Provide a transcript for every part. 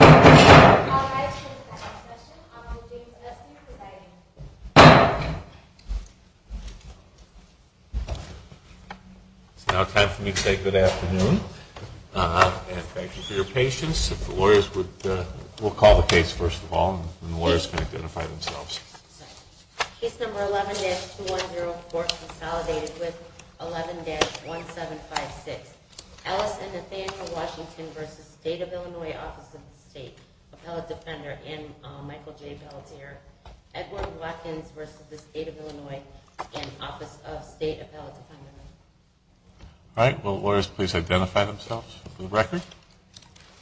It's now time for me to say good afternoon. And thank you for your patience. If the lawyers would, we'll call the case first of all, and the lawyers can identify themselves. Case number 11-2104, consolidated with 11-1756. Ellis and Nathaniel Washington v. State of Illinois, Office of the State, Appellate Defender, and Michael J. Belladere. Edward Watkins v. State of Illinois, Office of State, Appellate Defender. All right. Will the lawyers please identify themselves for the record?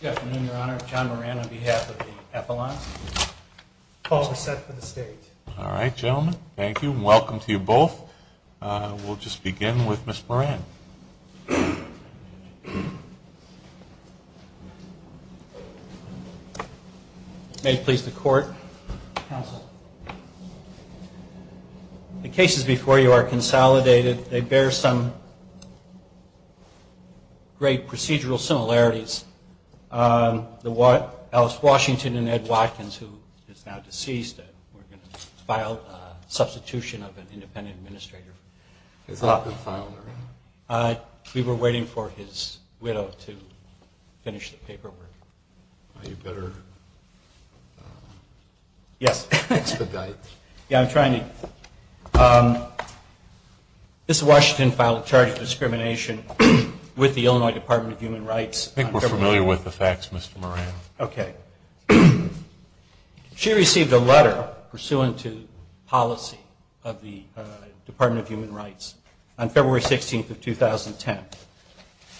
Good afternoon, Your Honor. John Moran on behalf of the Appellant. Call the set for the State. All right, gentlemen. Thank you. Welcome to you both. We'll just begin with Ms. Moran. May it please the Court. Counsel. The cases before you are consolidated. They bear some great procedural similarities. Ellis Washington and Ed Watkins, who is now deceased. We're going to file a substitution of an independent administrator. Has that been filed already? We were waiting for his widow to finish the paperwork. You better expedite. Yeah, I'm trying to. Mr. Washington filed a charge of discrimination with the Illinois Department of Human Rights I think we're familiar with the facts, Mr. Moran. Okay. She received a letter pursuant to policy of the Department of Human Rights on February 16th of 2010.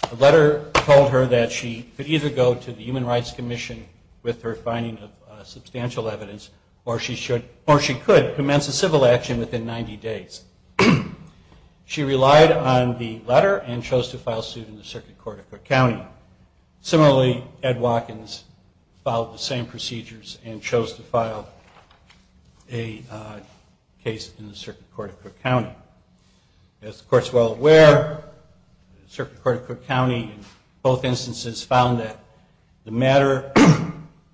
The letter told her that she could either go to the Human Rights Commission with her finding of substantial evidence or she could commence a civil action within 90 days. She relied on the letter and chose to file suit in the Circuit Court of Cook County. Similarly, Ed Watkins followed the same procedures and chose to file a case in the Circuit Court of Cook County. As the Court is well aware, the Circuit Court of Cook County in both instances found that the matter,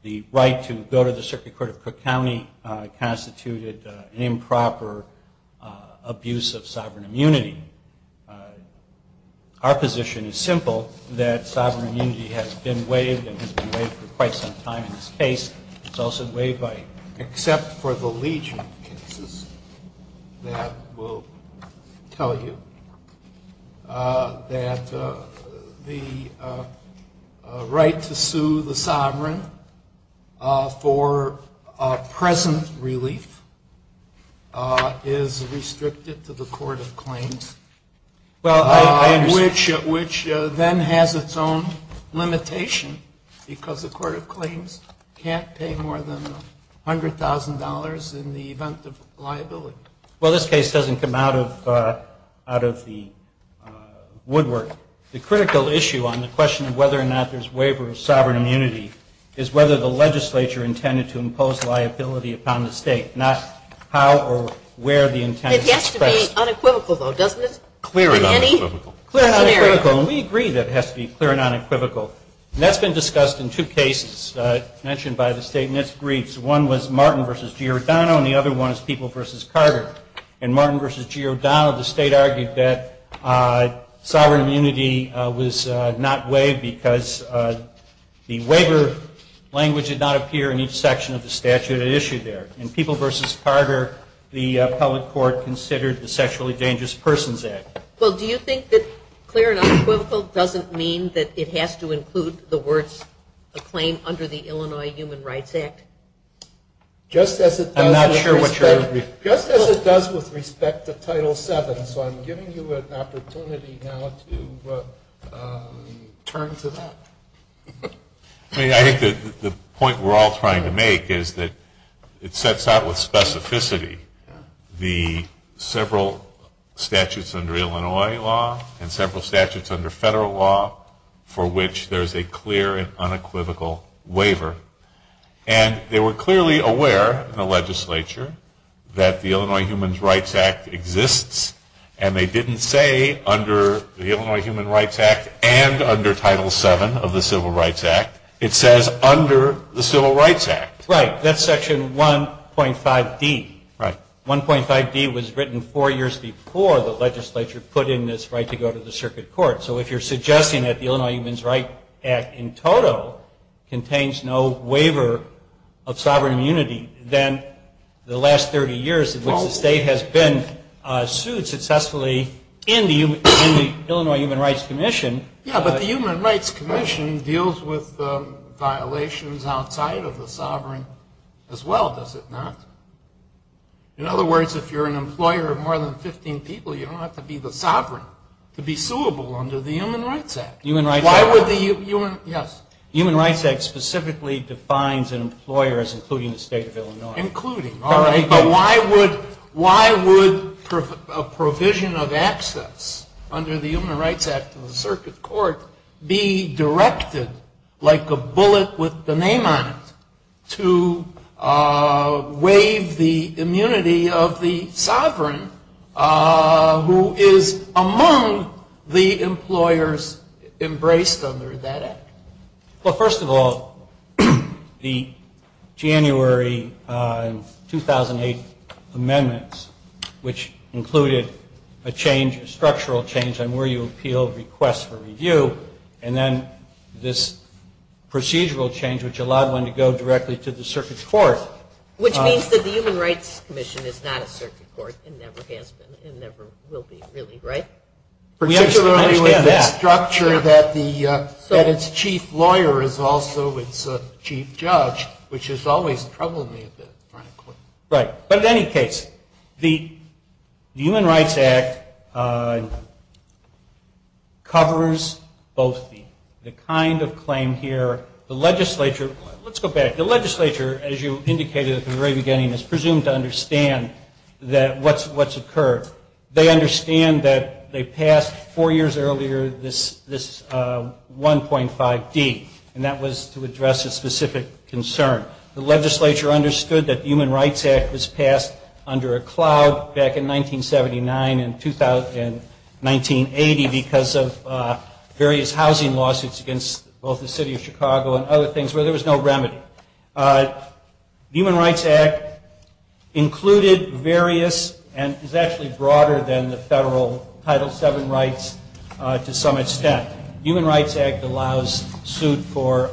the right to go to the has been waived and has been waived for quite some time in this case. It's also waived by except for the Legion cases that will tell you that the right to sue the sovereign for present relief is restricted to the Court of Claims, which then has its own limitation because the Court of Claims can't pay more than $100,000 in the event of liability. Well, this case doesn't come out of the woodwork. The critical issue on the question of whether or not there's waiver of sovereign immunity is whether the legislature intended to impose liability upon the State, not how or where the intent is expressed. It has to be unequivocal, though, doesn't it? Clear and unequivocal. And we agree that it has to be clear and unequivocal. And that's been discussed in two cases mentioned by the State and it's agreed. One was Martin v. Giordano and the other one is People v. Carter. In Martin v. Giordano, the State argued that sovereign immunity was not waived because the waiver language did not appear in each section of the statute that it issued there. In People v. Carter, the public court considered the Sexually Dangerous Persons Act. Well, do you think that clear and unequivocal doesn't mean that it has to include the words, a claim under the Illinois Human Rights Act? Just as it does with respect to Title VII, so I'm giving you an opportunity now to turn to that. I think the point we're all trying to make is that it sets out with specificity the several statutes under Illinois law and several statutes under the Civil Rights Act. They were clearly aware in the legislature that the Illinois Human Rights Act exists and they didn't say under the Illinois Human Rights Act and under Title VII of the Civil Rights Act. It says under the Civil Rights Act. Right. That's Section 1.5D. 1.5D was written four years before the legislature put in this right to go to the circuit court. So if you're suggesting that the Illinois Human Rights Act in total contains no waiver of sovereign immunity, then the last 30 years in which the state has been sued successfully in the Illinois Human Rights Commission. Yeah, but the Human Rights Commission deals with violations outside of the sovereign as well, does it not? In other words, if you're an employer of more than 15 people, you don't have to be the sovereign to be suable under the Human Rights Act. Human Rights Act. Yes. Human Rights Act specifically defines an employer as including the state of Illinois. Including. All right. But why would a provision of access under the Human Rights Act of the circuit court be directed like a bullet with the name on it to waive the immunity of the sovereign who is among the employers embraced under that act? Well, first of all, the January 2008 amendments, which included a change, a structural change on where you appeal requests for review, and then this procedural change which allowed one to go directly to the circuit court. Which means that the Human Rights Commission is not a circuit court and never has been and never will be, really, right? Particularly with the structure that its chief lawyer is also its chief judge, which has always troubled me a bit, frankly. Right. But in any case, the Human Rights Act covers both the kind of claim here, the legislature. Let's go back. The legislature, as you indicated at the very beginning, is presumed to understand what's occurred. They understand that they passed four years earlier this 1.5D. And that was to address a specific concern. The legislature understood that the Human Rights Act was passed under a cloud back in 1979 and 1980 because of various housing lawsuits against both the city of Chicago and other things where there was no remedy. The Human Rights Act included various and is actually broader than the federal Title VII rights to some extent. The Human Rights Act allows suit for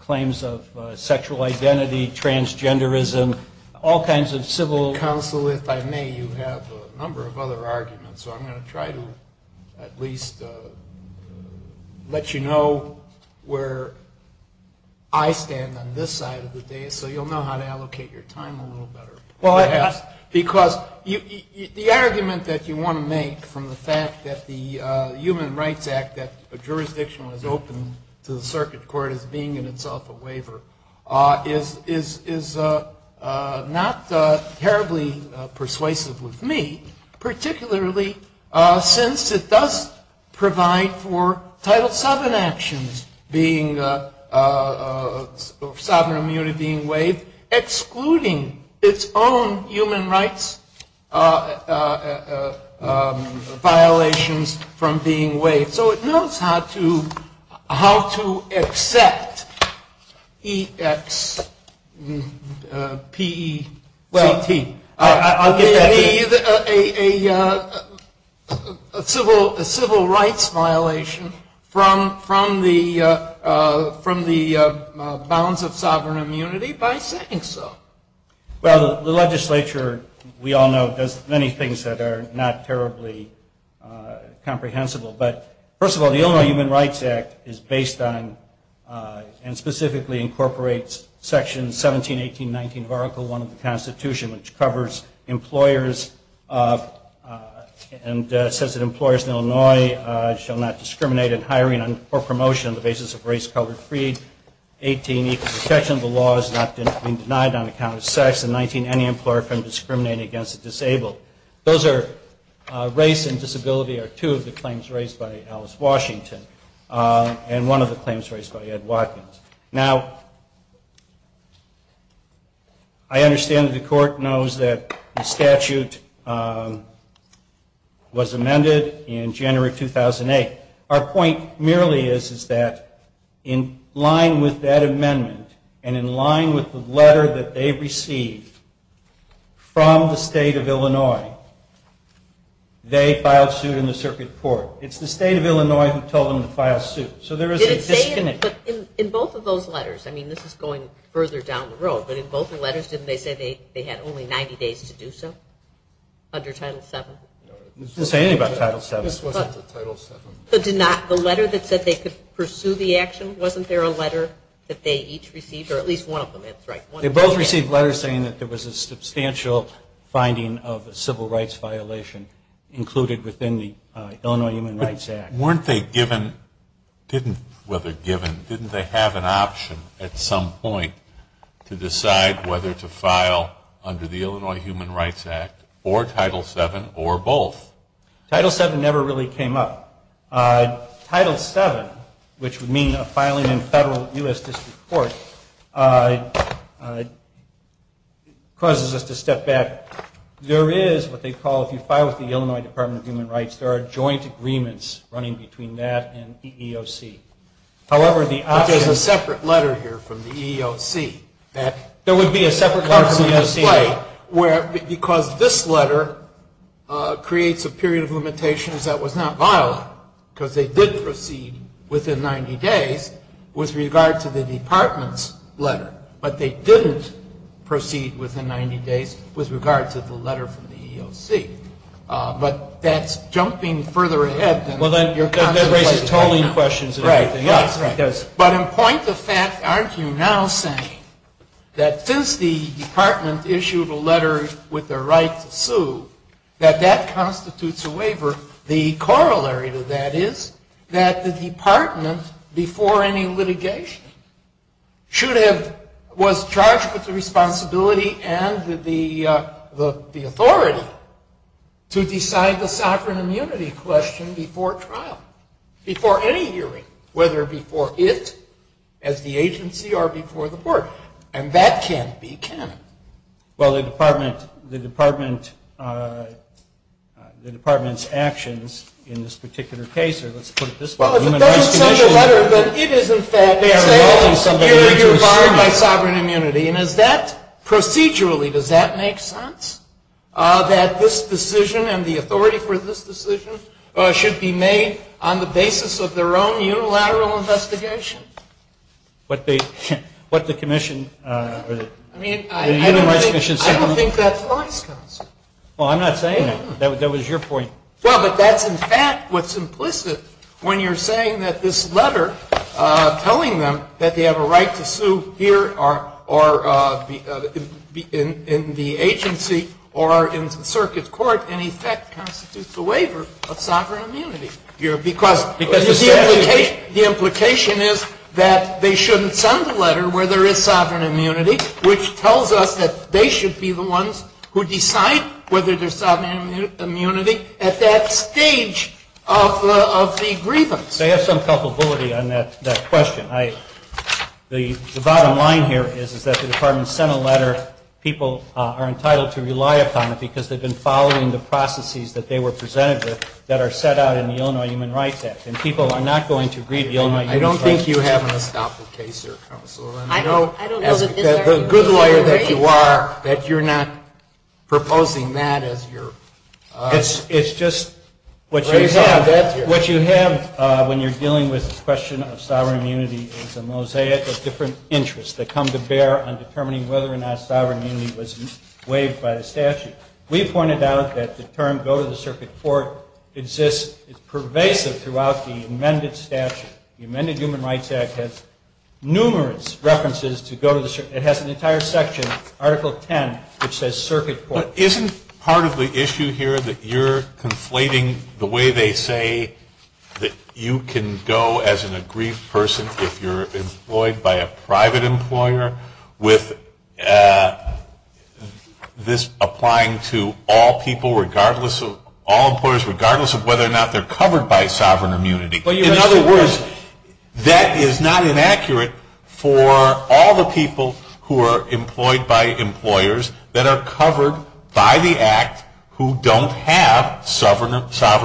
claims of sexual identity, transgenderism, all kinds of civil. Counsel, if I may, you have a number of other arguments. So I'm going to try to at least let you know where I stand on this side of the day so you'll know how to allocate your time a little better. Because the argument that you want to make from the fact that the Human Rights Act, that jurisdiction was opened to the circuit court as being in itself a waiver, is not terribly persuasive with me, particularly since it does provide for Title VII actions, sovereign immunity being waived, excluding its own human rights violations from being waived. So it knows how to accept E-X-P-E-C-T, a civil rights violation from the bounds of sovereign immunity by saying so. Well, the legislature, we all know, does many things that are not terribly comprehensible. But first of all, the Illinois Human Rights Act is based on and specifically incorporates Section 17, 18, 19 of Article I of the Constitution, which covers employers and says that employers in Illinois shall not discriminate in hiring or promotion on the basis of race, color, or creed. 18, equal protection of the law is not being denied on account of sex, and 19, any employer can discriminate against the disabled. Race and disability are two of the claims raised by Alice Washington and one of the claims raised by Ed Watkins. Now, I understand that the court knows that the statute was amended in January 2008. Our point merely is that in line with that amendment and in line with the letter that they received from the state of Illinois, they filed suit in the circuit court. It's the state of Illinois who told them to file suit. So there is a disconnect. In both of those letters, I mean, this is going further down the road, but in both the letters didn't they say they had only 90 days to do so under Title VII? They didn't say anything about Title VII. The letter that said they could pursue the action, wasn't there a letter that they each received? Or at least one of them, that's right. They both received letters saying that there was a substantial finding of a civil rights violation included within the Illinois Human Rights Act. Weren't they given, didn't they have an option at some point to decide whether to file under the Illinois Human Rights Act or Title VII or Title VII? Title VII never really came up. Title VII, which would mean a filing in federal U.S. district court, causes us to step back. There is what they call, if you file with the Illinois Department of Human Rights, there are joint agreements running between that and EEOC. But there's a separate letter here from the EEOC. There would be a separate letter from the EEOC. Because this letter creates a period of limitations that was not violent, because they did proceed within 90 days with regard to the department's letter. But they didn't proceed within 90 days with regard to the letter from the EEOC. But that's jumping further ahead than your contemplated right now. But in point of fact, aren't you now saying that since the department issued a letter with the right to sue, that that constitutes a waiver? The corollary to that is that the department, before any litigation, was charged with the responsibility and the authority to decide the sovereign immunity question before trial. Before any hearing, whether before it, as the agency, or before the court. And that can be canon. Well, the department's actions in this particular case, or let's put it this way. Well, if it doesn't say in the letter that it is, in fact, saying, here, you're barred by sovereign immunity, and is that procedurally, does that make sense? That this decision, and the authority for this decision, should be made on the basis of their own unilateral investigation? What the commission, or the unified commission said. I don't think that applies, counsel. Well, I'm not saying that. That was your point. Well, but that's, in fact, what's implicit when you're saying that this letter telling them that they have a right to sue here, or in the agency, or in the circuit court, in effect, constitutes a waiver of sovereign immunity. The implication is that they shouldn't send a letter where there is sovereign immunity, which tells us that they should be the ones who decide whether there's a waiver of sovereign immunity or not. And that's what the commission said at that stage of the grievance. They have some culpability on that question. The bottom line here is that the department sent a letter. People are entitled to rely upon it because they've been following the processes that they were presented with that are set out in the Illinois Human Rights Act. And people are not going to read the Illinois Human Rights Act. I don't think you have an estoppel case here, counsel. I don't know that this is our position. The good lawyer that you are, that you're not proposing that as your... It's just... What you have when you're dealing with the question of sovereign immunity is a mosaic of different interests that come to bear on determining whether or not sovereign immunity was waived by the statute. We pointed out that the term go to the circuit court exists. It's pervasive throughout the amended statute. The amended Human Rights Act has numerous references to go to the... It has an entire section, Article 10, which says circuit court. Isn't part of the issue here that you're conflating the way they say that you can go as an aggrieved person if you're employed by a private employer with this applying to all people regardless of... They're covered by sovereign immunity. In other words, that is not inaccurate for all the people who are employed by employers that are covered by the act who don't have sovereign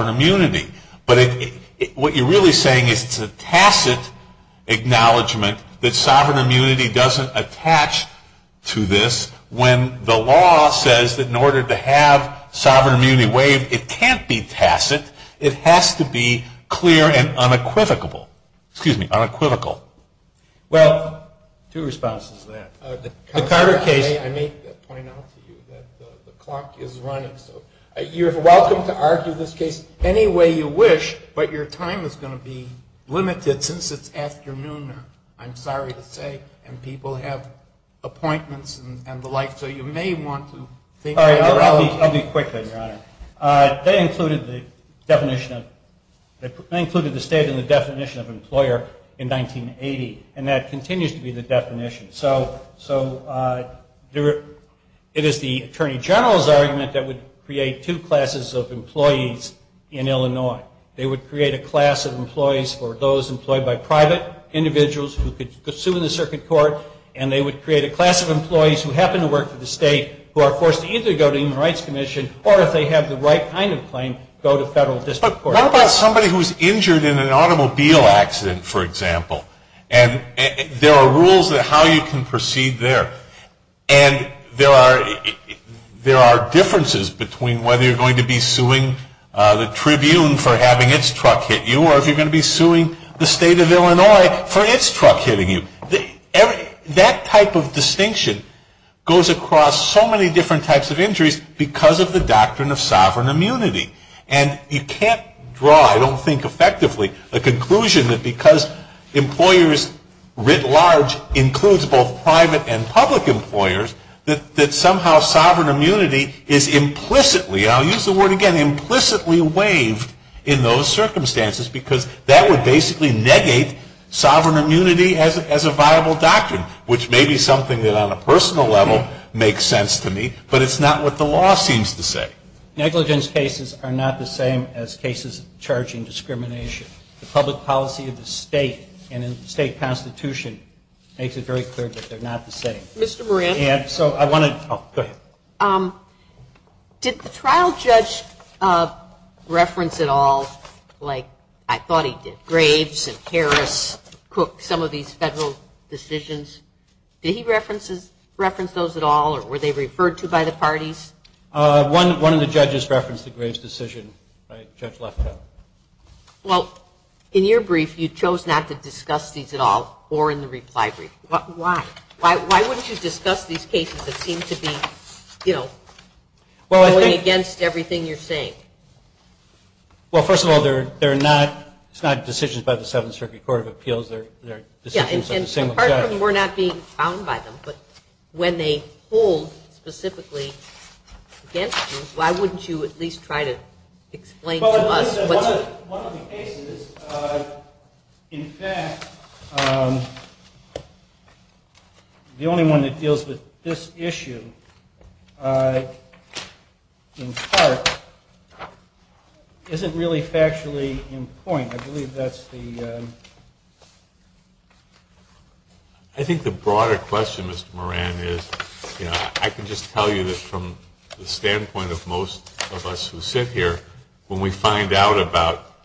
immunity. But what you're really saying is it's a tacit acknowledgement that sovereign immunity doesn't attach to this when the law says that in order to have sovereign immunity waived, it can't be tacit. It has to be clear and unequivocal. Excuse me, unequivocal. Well, two responses to that. The Carter case... I may point out to you that the clock is running. You're welcome to argue this case any way you wish, but your time is going to be limited since it's afternoon, I'm sorry to say, and people have appointments and the like. So you may want to think... I'll be quick, then, Your Honor. They included the state in the definition of employer in 1980. And that continues to be the definition. So it is the Attorney General's argument that would create two classes of employees in Illinois. They would create a class of employees for those employed by private individuals who could sue in the circuit court, and they would create a class of employees who happen to work for the state who are forced to either go to the United States or go to Illinois. But what about somebody who's injured in an automobile accident, for example? And there are rules on how you can proceed there. And there are differences between whether you're going to be suing the Tribune for having its truck hit you, or if you're going to be suing the state of Illinois for its truck hitting you. That type of distinction goes across so many different types of injuries, because it's the same thing. And it's the same thing because of the doctrine of sovereign immunity. And you can't draw, I don't think effectively, a conclusion that because employers writ large includes both private and public employers, that somehow sovereign immunity is implicitly, and I'll use the word again, implicitly waived in those circumstances, because that would basically negate sovereign immunity as a viable doctrine. Which may be something that on a personal level makes sense to me, but it's not what the law says. Negligence cases are not the same as cases of charging discrimination. The public policy of the state and in the state constitution makes it very clear that they're not the same. Mr. Moran? Did the trial judge reference at all, like I thought he did, Graves and Harris, Cook, some of these federal decisions? Did he reference those at all, or were they referred to by the parties? One of the judges referenced the Graves decision. Judge Lefkowitz. Well, in your brief, you chose not to discuss these at all, or in the reply brief. Why? Why wouldn't you discuss these cases that seem to be going against everything you're saying? Well, first of all, they're not decisions by the Seventh Circuit Court of Appeals. They're decisions by the single judge. Apart from we're not being found by them, but when they hold specifically against you, why wouldn't you at least try to explain to us what's... Well, one of the cases, in fact, the only one that deals with this issue, in part, isn't really factually in point. I believe that's the... I think the broader question, Mr. Moran, is, I can just tell you that from the standpoint of most of us who sit here, when we find out about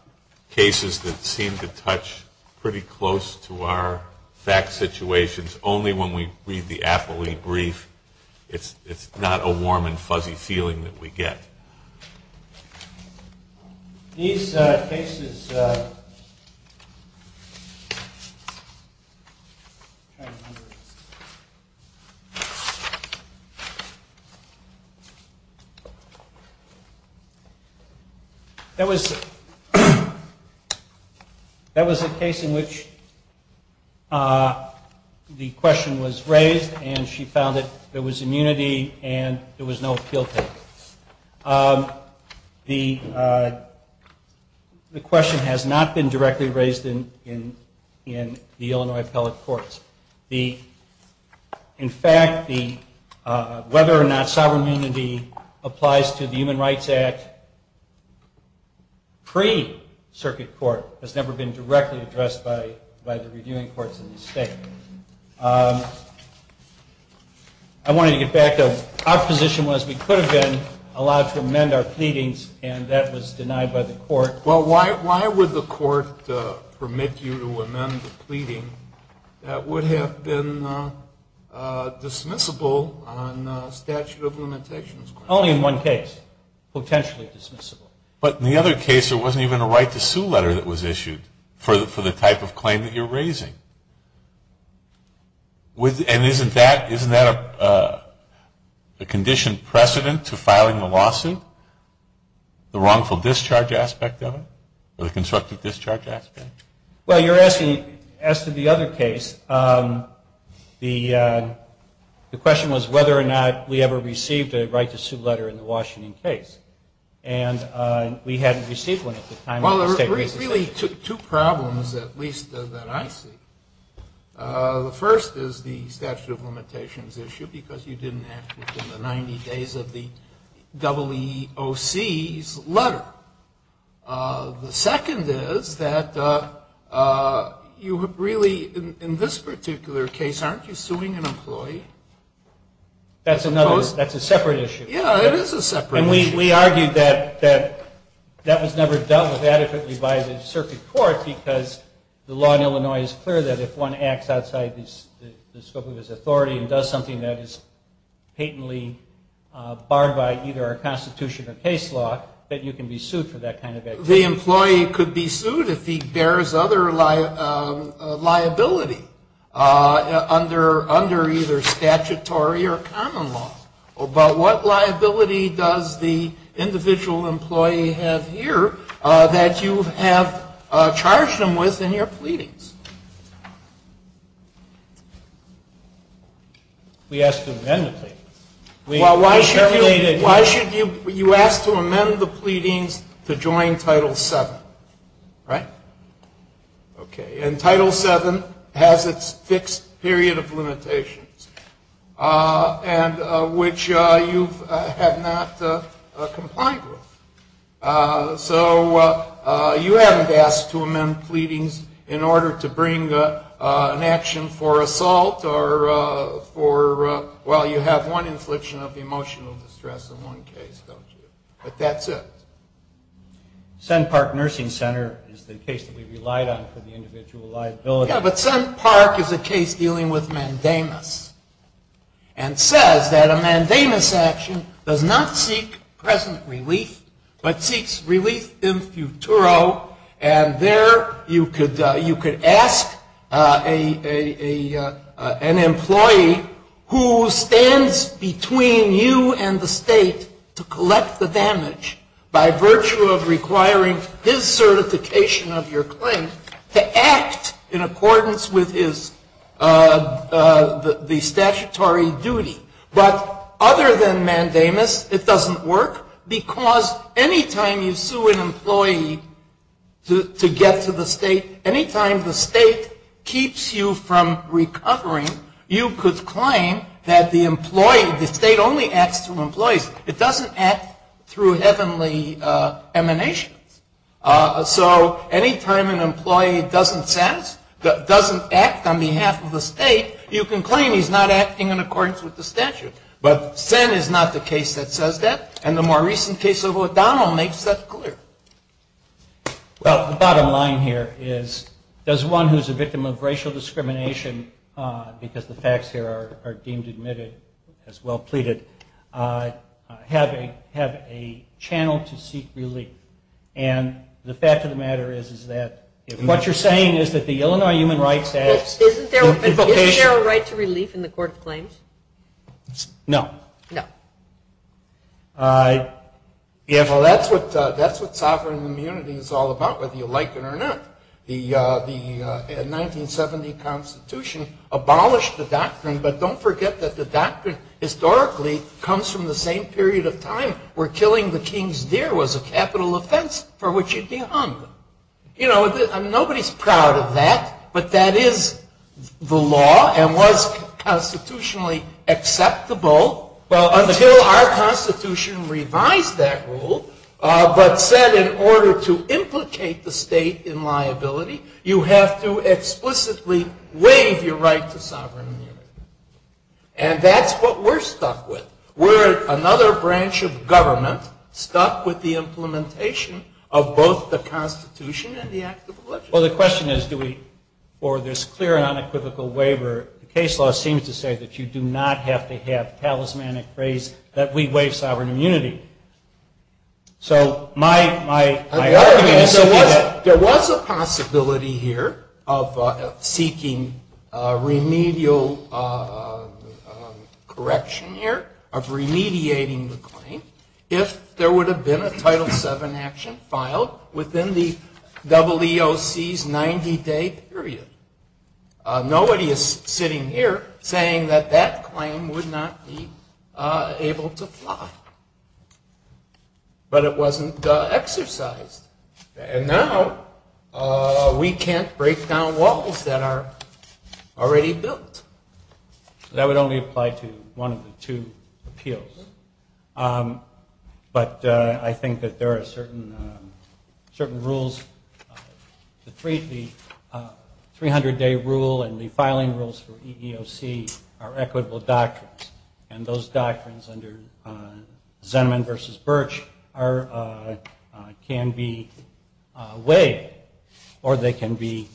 cases that seem to touch pretty close to our fact situations, only when we read the appellee brief, it's not a warm and fuzzy feeling that we get. These cases... That was... That was a case in which the question was raised, and she found that there was immunity and there was no appeal to it. The question has not been directly raised in the Illinois appellate courts. In fact, whether or not sovereignty applies to the Human Rights Act pre-Circuit Court has never been directly addressed by the reviewing courts in the state. I wanted to get back to... Our position was we could have been allowed to amend our pleadings and that was denied by the court. Well, why would the court permit you to amend the pleading that would have been dismissible on statute of limitations? Only in one case, potentially dismissible. But in the other case, there wasn't even a right to sue letter that was issued for the type of claim that you're raising. And isn't that a conditioned precedent to filing a lawsuit, the wrongful discharge aspect of it, or the constructive discharge aspect? Well, you're asking, as to the other case, the question was whether or not we ever received a right to sue letter in the Washington case, and we hadn't received one at the time. Well, there were really two problems, at least that I see. The first is the statute of limitations issue because you didn't act within the 90 days of the WOC's letter. The second is that you really, in this particular case, aren't you suing an employee? That's a separate issue. Yeah, it is a separate issue. And we argued that that was never dealt with adequately by the circuit court because the law in Illinois is clear that if one acts outside the scope of his authority and does something that is patently barred by either our Constitution or case law, that you can be sued for that kind of activity. The employee could be sued if he bears other liability under either statutory or common law. But what liability does the individual employee have here that you have charged him with in your pleadings? We asked to amend the pleadings. Well, why should you ask to amend the pleadings to join Title VII? Right? Okay. And Title VII has its fixed period of limitations, and which you have not complied with. So you haven't asked to amend pleadings in order to bring an action for assault or for, well, you have one infliction of emotional distress in one case, don't you? But that's it. Senn Park Nursing Center is the case that we relied on for the individual liability. Yeah, but Senn Park is a case dealing with mandamus. And says that a mandamus action does not seek present relief, but seeks relief in futuro. And there you could ask an employee who stands between you and the State to collect the damage by virtue of requiring his certification of your claim to act in accordance with his statutory duty. But other than mandamus, it doesn't work, because any time you sue an employee to get to the State, any time the State keeps you from recovering, you could claim that the State only acts through employees. It doesn't act through heavenly emanations. So any time an employee doesn't act on behalf of the State, you can claim he's not acting in accordance with the statute. But Senn is not the case that says that, and the more recent case of O'Donnell makes that clear. Well, the bottom line here is does one who's a victim of racial discrimination, because the facts here are deemed admitted as well pleaded, have a channel to seek relief? And the fact of the matter is that what you're saying is that the Is there a right to relief in the Court of Claims? No. No. That's what sovereign immunity is all about, whether you like it or not. The 1970 Constitution abolished the doctrine, but don't forget that the doctrine historically comes from the same period of time where killing the king's deer was a capital offense for which you'd be hung. Nobody's proud of that, but that is the law and was constitutionally acceptable until our Constitution revised that rule, but said in order to implicate the State in liability, you have to explicitly waive your right to sovereign immunity. And that's what we're stuck with. We're another branch of government stuck with the implementation of both the Constitution and the Act of 1970 for this clear and unequivocal waiver. The case law seems to say that you do not have to have talismanic praise that we waive sovereign immunity. So my argument is that there was a possibility here of seeking remedial correction here, of remediating the claim, if there would have been a Title VII action filed within the EEOC's 90-day period. Nobody is sitting here saying that that claim would not be able to fly. But it wasn't exercised. And now we can't break down walls that are already built. That would only apply to one of the two appeals. But I think that there are certain rules, the 300-day rule and the filing rules for EEOC are equitable doctrines. And those doctrines under Zenneman v. Birch can be waived or they can be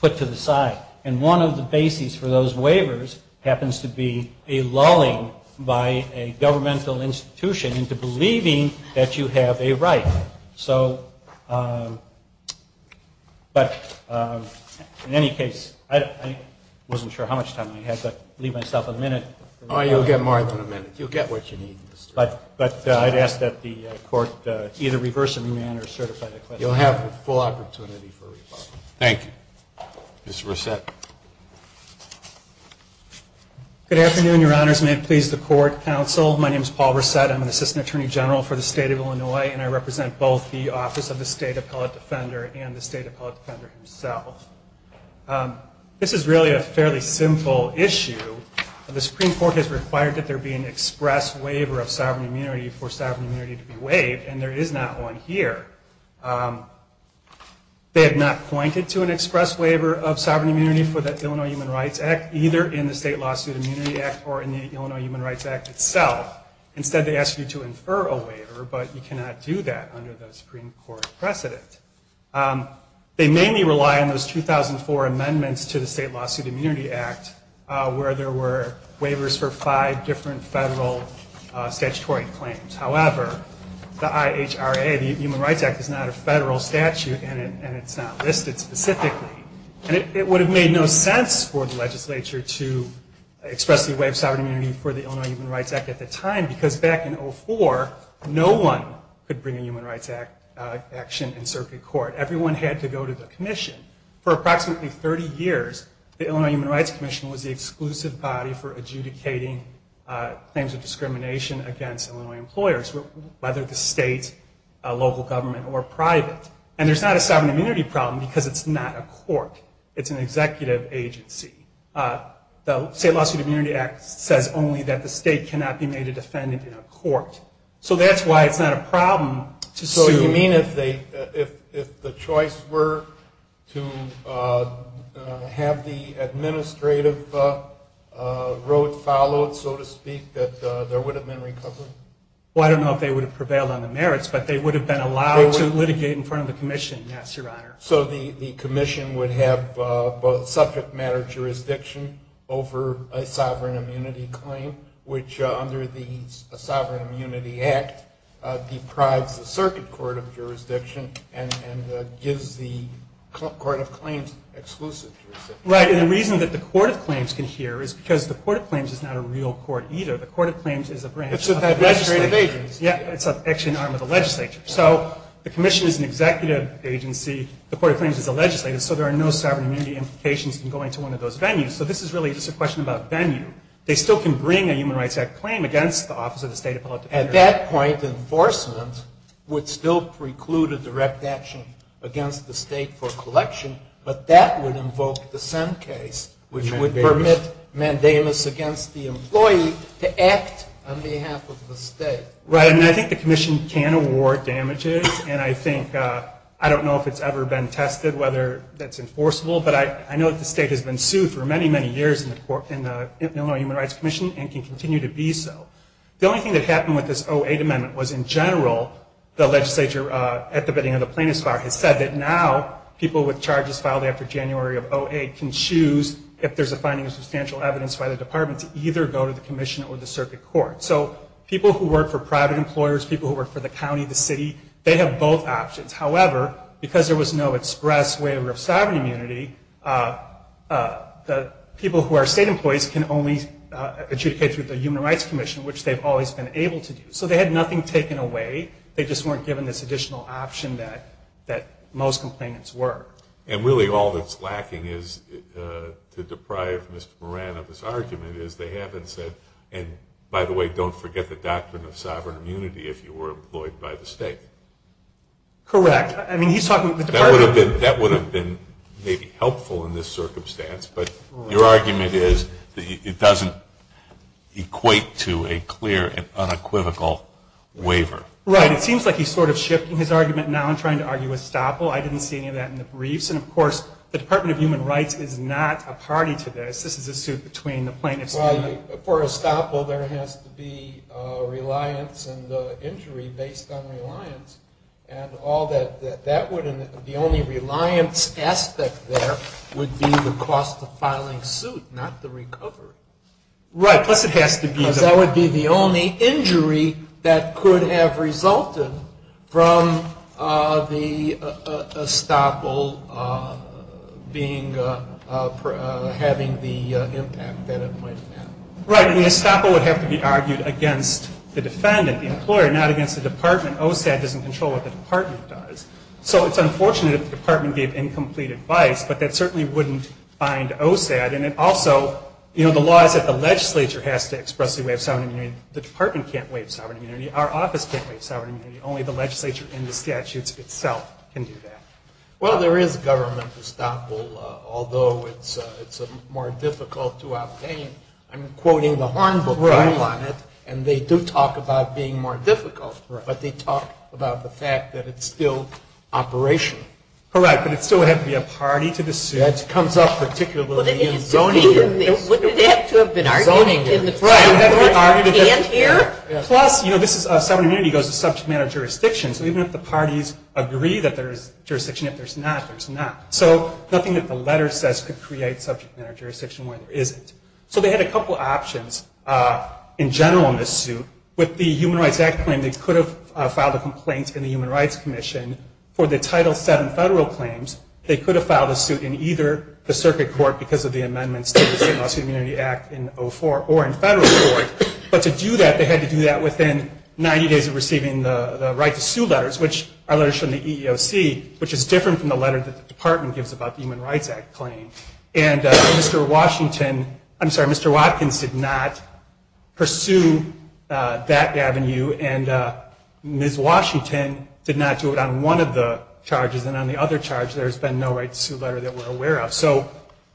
put to the side. And one of the bases for those waivers happens to be a lulling by a governmental institution into believing that you have a right. But in any case, I wasn't sure how much time I had, but I'll leave myself a minute. But I'd ask that the Court either reverse a remand or certify that question. Thank you. Good afternoon, Your Honors. May it please the Court, Counsel. My name is Paul Brissette. I'm an Assistant Attorney General for the State of Illinois, and I represent both the Office of the State Appellate Defender and the State Appellate Defender himself. This is really a fairly simple issue. The Supreme Court has required that there be an express waiver of sovereign immunity for sovereign immunity to be waived, and there is not one here. They have not pointed to an express waiver of sovereign immunity for the Illinois Human Rights Act, either in the State Lawsuit Immunity Act or in the Illinois Human Rights Act itself. Instead, they ask you to infer a waiver, but you cannot do that under the Supreme Court precedent. They mainly rely on those 2004 amendments to the State Lawsuit Immunity Act, where there were waivers for five different federal statutory claims. However, the IHRA, the Human Rights Act, is not a federal statute, and it's not listed specifically. And it would have made no sense for the legislature to express the waiver of sovereign immunity for the Illinois Human Rights Act at the time because back in 2004, no one could bring a human rights action in circuit court. Everyone had to go to the commission. For approximately 30 years, the Illinois Human Rights Commission was the exclusive body for adjudicating claims of discrimination against Illinois employers, whether the state, local government, or private. And there's not a sovereign immunity problem because it's not a court. It's an adjudication. The State Lawsuit Immunity Act says only that the state cannot be made a defendant in a court. So that's why it's not a problem to sue. So you mean if the choice were to have the administrative road followed, so to speak, that there would have been recovery? Well, I don't know if they would have prevailed on the merits, but they would have been allowed to litigate in front of the commission, yes, Your Honor. So the commission would have subject matter jurisdiction over a sovereign immunity claim, which under the Sovereign Immunity Act deprives the circuit court of jurisdiction and gives the Court of Claims exclusive jurisdiction. Right, and the reason that the Court of Claims can hear is because the Court of Claims is not a real court either. The Court of Claims is a branch of the legislature. It's actually an arm of the legislature. So the commission is an executive agency. The Court of Claims is a legislative. So there are no sovereign immunity implications in going to one of those venues. So this is really just a question about venue. They still can bring a Human Rights Act claim against the Office of the State of Public Defender. At that point, enforcement would still preclude a direct action against the state for collection, but that would invoke the Senn case, which would permit mandamus against the employee to act on behalf of the state. Right, and I think the commission can award damages, and I think, I don't know if it's ever been tested whether that's enforceable, but I know that the state has been sued for many, many years in the Illinois Human Rights Commission and can continue to be so. The only thing that happened with this 08 amendment was in general, the legislature at the beginning of the Plaintiffs' Fire has said that now people with charges filed after January of 08 can choose, if there's a finding of substantial evidence by the department, to either go to the commission or the circuit court. So people who work for private employers, people who work for the county, the city, they have both options. However, because there was no express waiver of sovereign immunity, people who are state employees can only adjudicate through the Human Rights Commission, which they've always been able to do. So they had nothing taken away, they just weren't given this additional option that most complainants were. And really all that's lacking is, to deprive Mr. Moran of his argument, is they haven't said, and by the way, don't forget the Department of Human Rights is not employed by the state. That would have been maybe helpful in this circumstance, but your argument is that it doesn't equate to a clear and unequivocal waiver. Right, it seems like he's sort of shifting his argument now and trying to argue estoppel. I didn't see any of that in the briefs. And of course, the Department of Human Rights is not a party to this. This is a suit between the plaintiffs. For estoppel, there has to be reliance and injury based on reliance. The only reliance aspect there would be the cost of filing suit, not the recovery. Because that would be the only injury that could have resulted from the estoppel having the impact that it might have. Right, and the estoppel would have to be argued against the defendant, the employer, not against the department. OSAD doesn't control what the department does. So it's unfortunate if the department gave incomplete advice, but that certainly wouldn't bind OSAD. And also, the law is that the legislature has to expressly waive sovereign immunity. The department can't waive sovereign immunity. Our office can't waive sovereign immunity. Only the legislature and the statutes itself can do that. Well, there is government estoppel, although it's more difficult to obtain. I'm quoting the Horn book on it, and they do talk about being more difficult, but they talk about the fact that it's still operational. Correct, but it still would have to be a party to the suit. That comes up particularly in zoning. Wouldn't it have to have been argued in the trial court in the end here? Plus, you know, this is, sovereign immunity goes to subject matter jurisdiction. So even if the parties agree that there is jurisdiction, if there's not, there's not. So nothing that the letter says could create subject matter jurisdiction where there isn't. So they had a couple options in general in this suit. With the Human Rights Act claim, they could have filed a complaint in the Human Rights Commission for the Title VII federal claims. They could have filed a suit in either the circuit court because of the amendments to the Civil Lawsuit Immunity Act in 04, or in federal court. But to do that, they had to do that within 90 days of receiving the right to sue letters, which are letters from the EEOC, which is different from the letter that the Department gives about the Human Rights Act claim. And Mr. Washington, I'm sorry, Mr. Watkins did not pursue that avenue, and Ms. Washington did not do it on one of the charges and on the other charge there has been no right to sue letter that we're aware of. So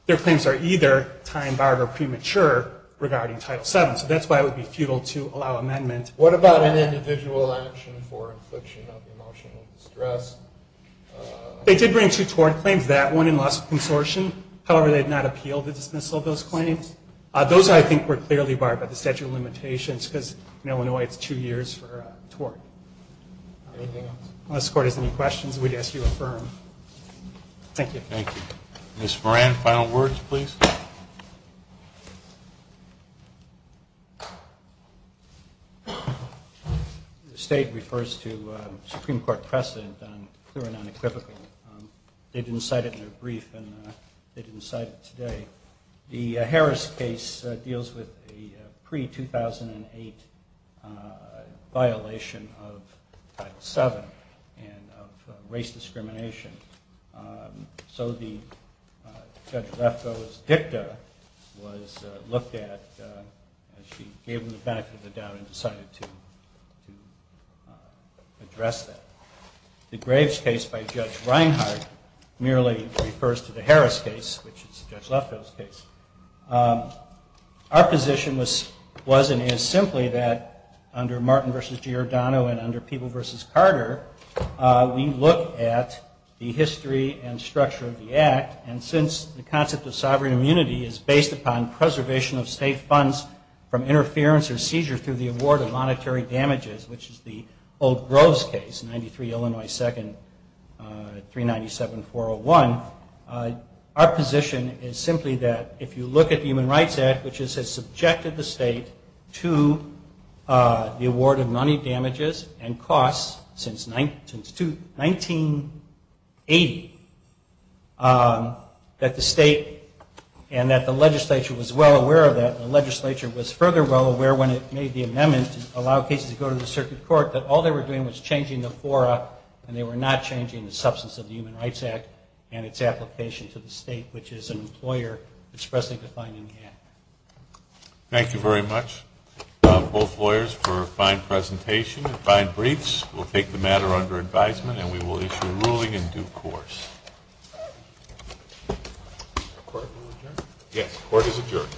their claims are either time-barred or premature regarding Title VII. So that's why it would be futile to allow amendment. What about an individual action for infliction of emotional distress? They did bring two tort claims, that one and loss of consortium. However, they did not appeal the dismissal of those claims. Those, I think, were clearly barred by the statute of limitations because in Illinois, it's two years for a tort. Unless the Court has any questions, we'd ask you to affirm. Thank you. The State refers to Supreme Court precedent on clear and unequivocal. They didn't cite it in their brief, and they didn't cite it today. The Harris case deals with a pre-2008 violation of Title VII and of race discrimination. So the DICTA was looked at and she gave them the benefit of the doubt and decided to address that. The Graves case by Judge Reinhart merely refers to the Harris case, which is Judge Lefkoe's case. Our position was and is simply that under Martin v. Giordano and under Peeble v. Carter we look at the history and structure of the Act and since the concept of sovereign immunity is based upon preservation of state funds from interference or seizure through the award of monetary damages which is the old Groves case, 93 Illinois 2nd, 397-401, our position is simply that if you look at the Human Rights Act, which has subjected the state to the award of money damages and costs since 1980, that the state and that the legislature was well aware of that and the legislature was further well aware when it made the amendment to allow cases to go to the circuit court that all they were doing was changing the fora and they were not changing the substance of the Human Rights Act and its application to the state, which is an employer expressly defined in the Act. Thank you very much, both lawyers, for a fine presentation and fine briefs. We'll take the matter under advisement and we will issue a ruling in due course. Yes, court is adjourned.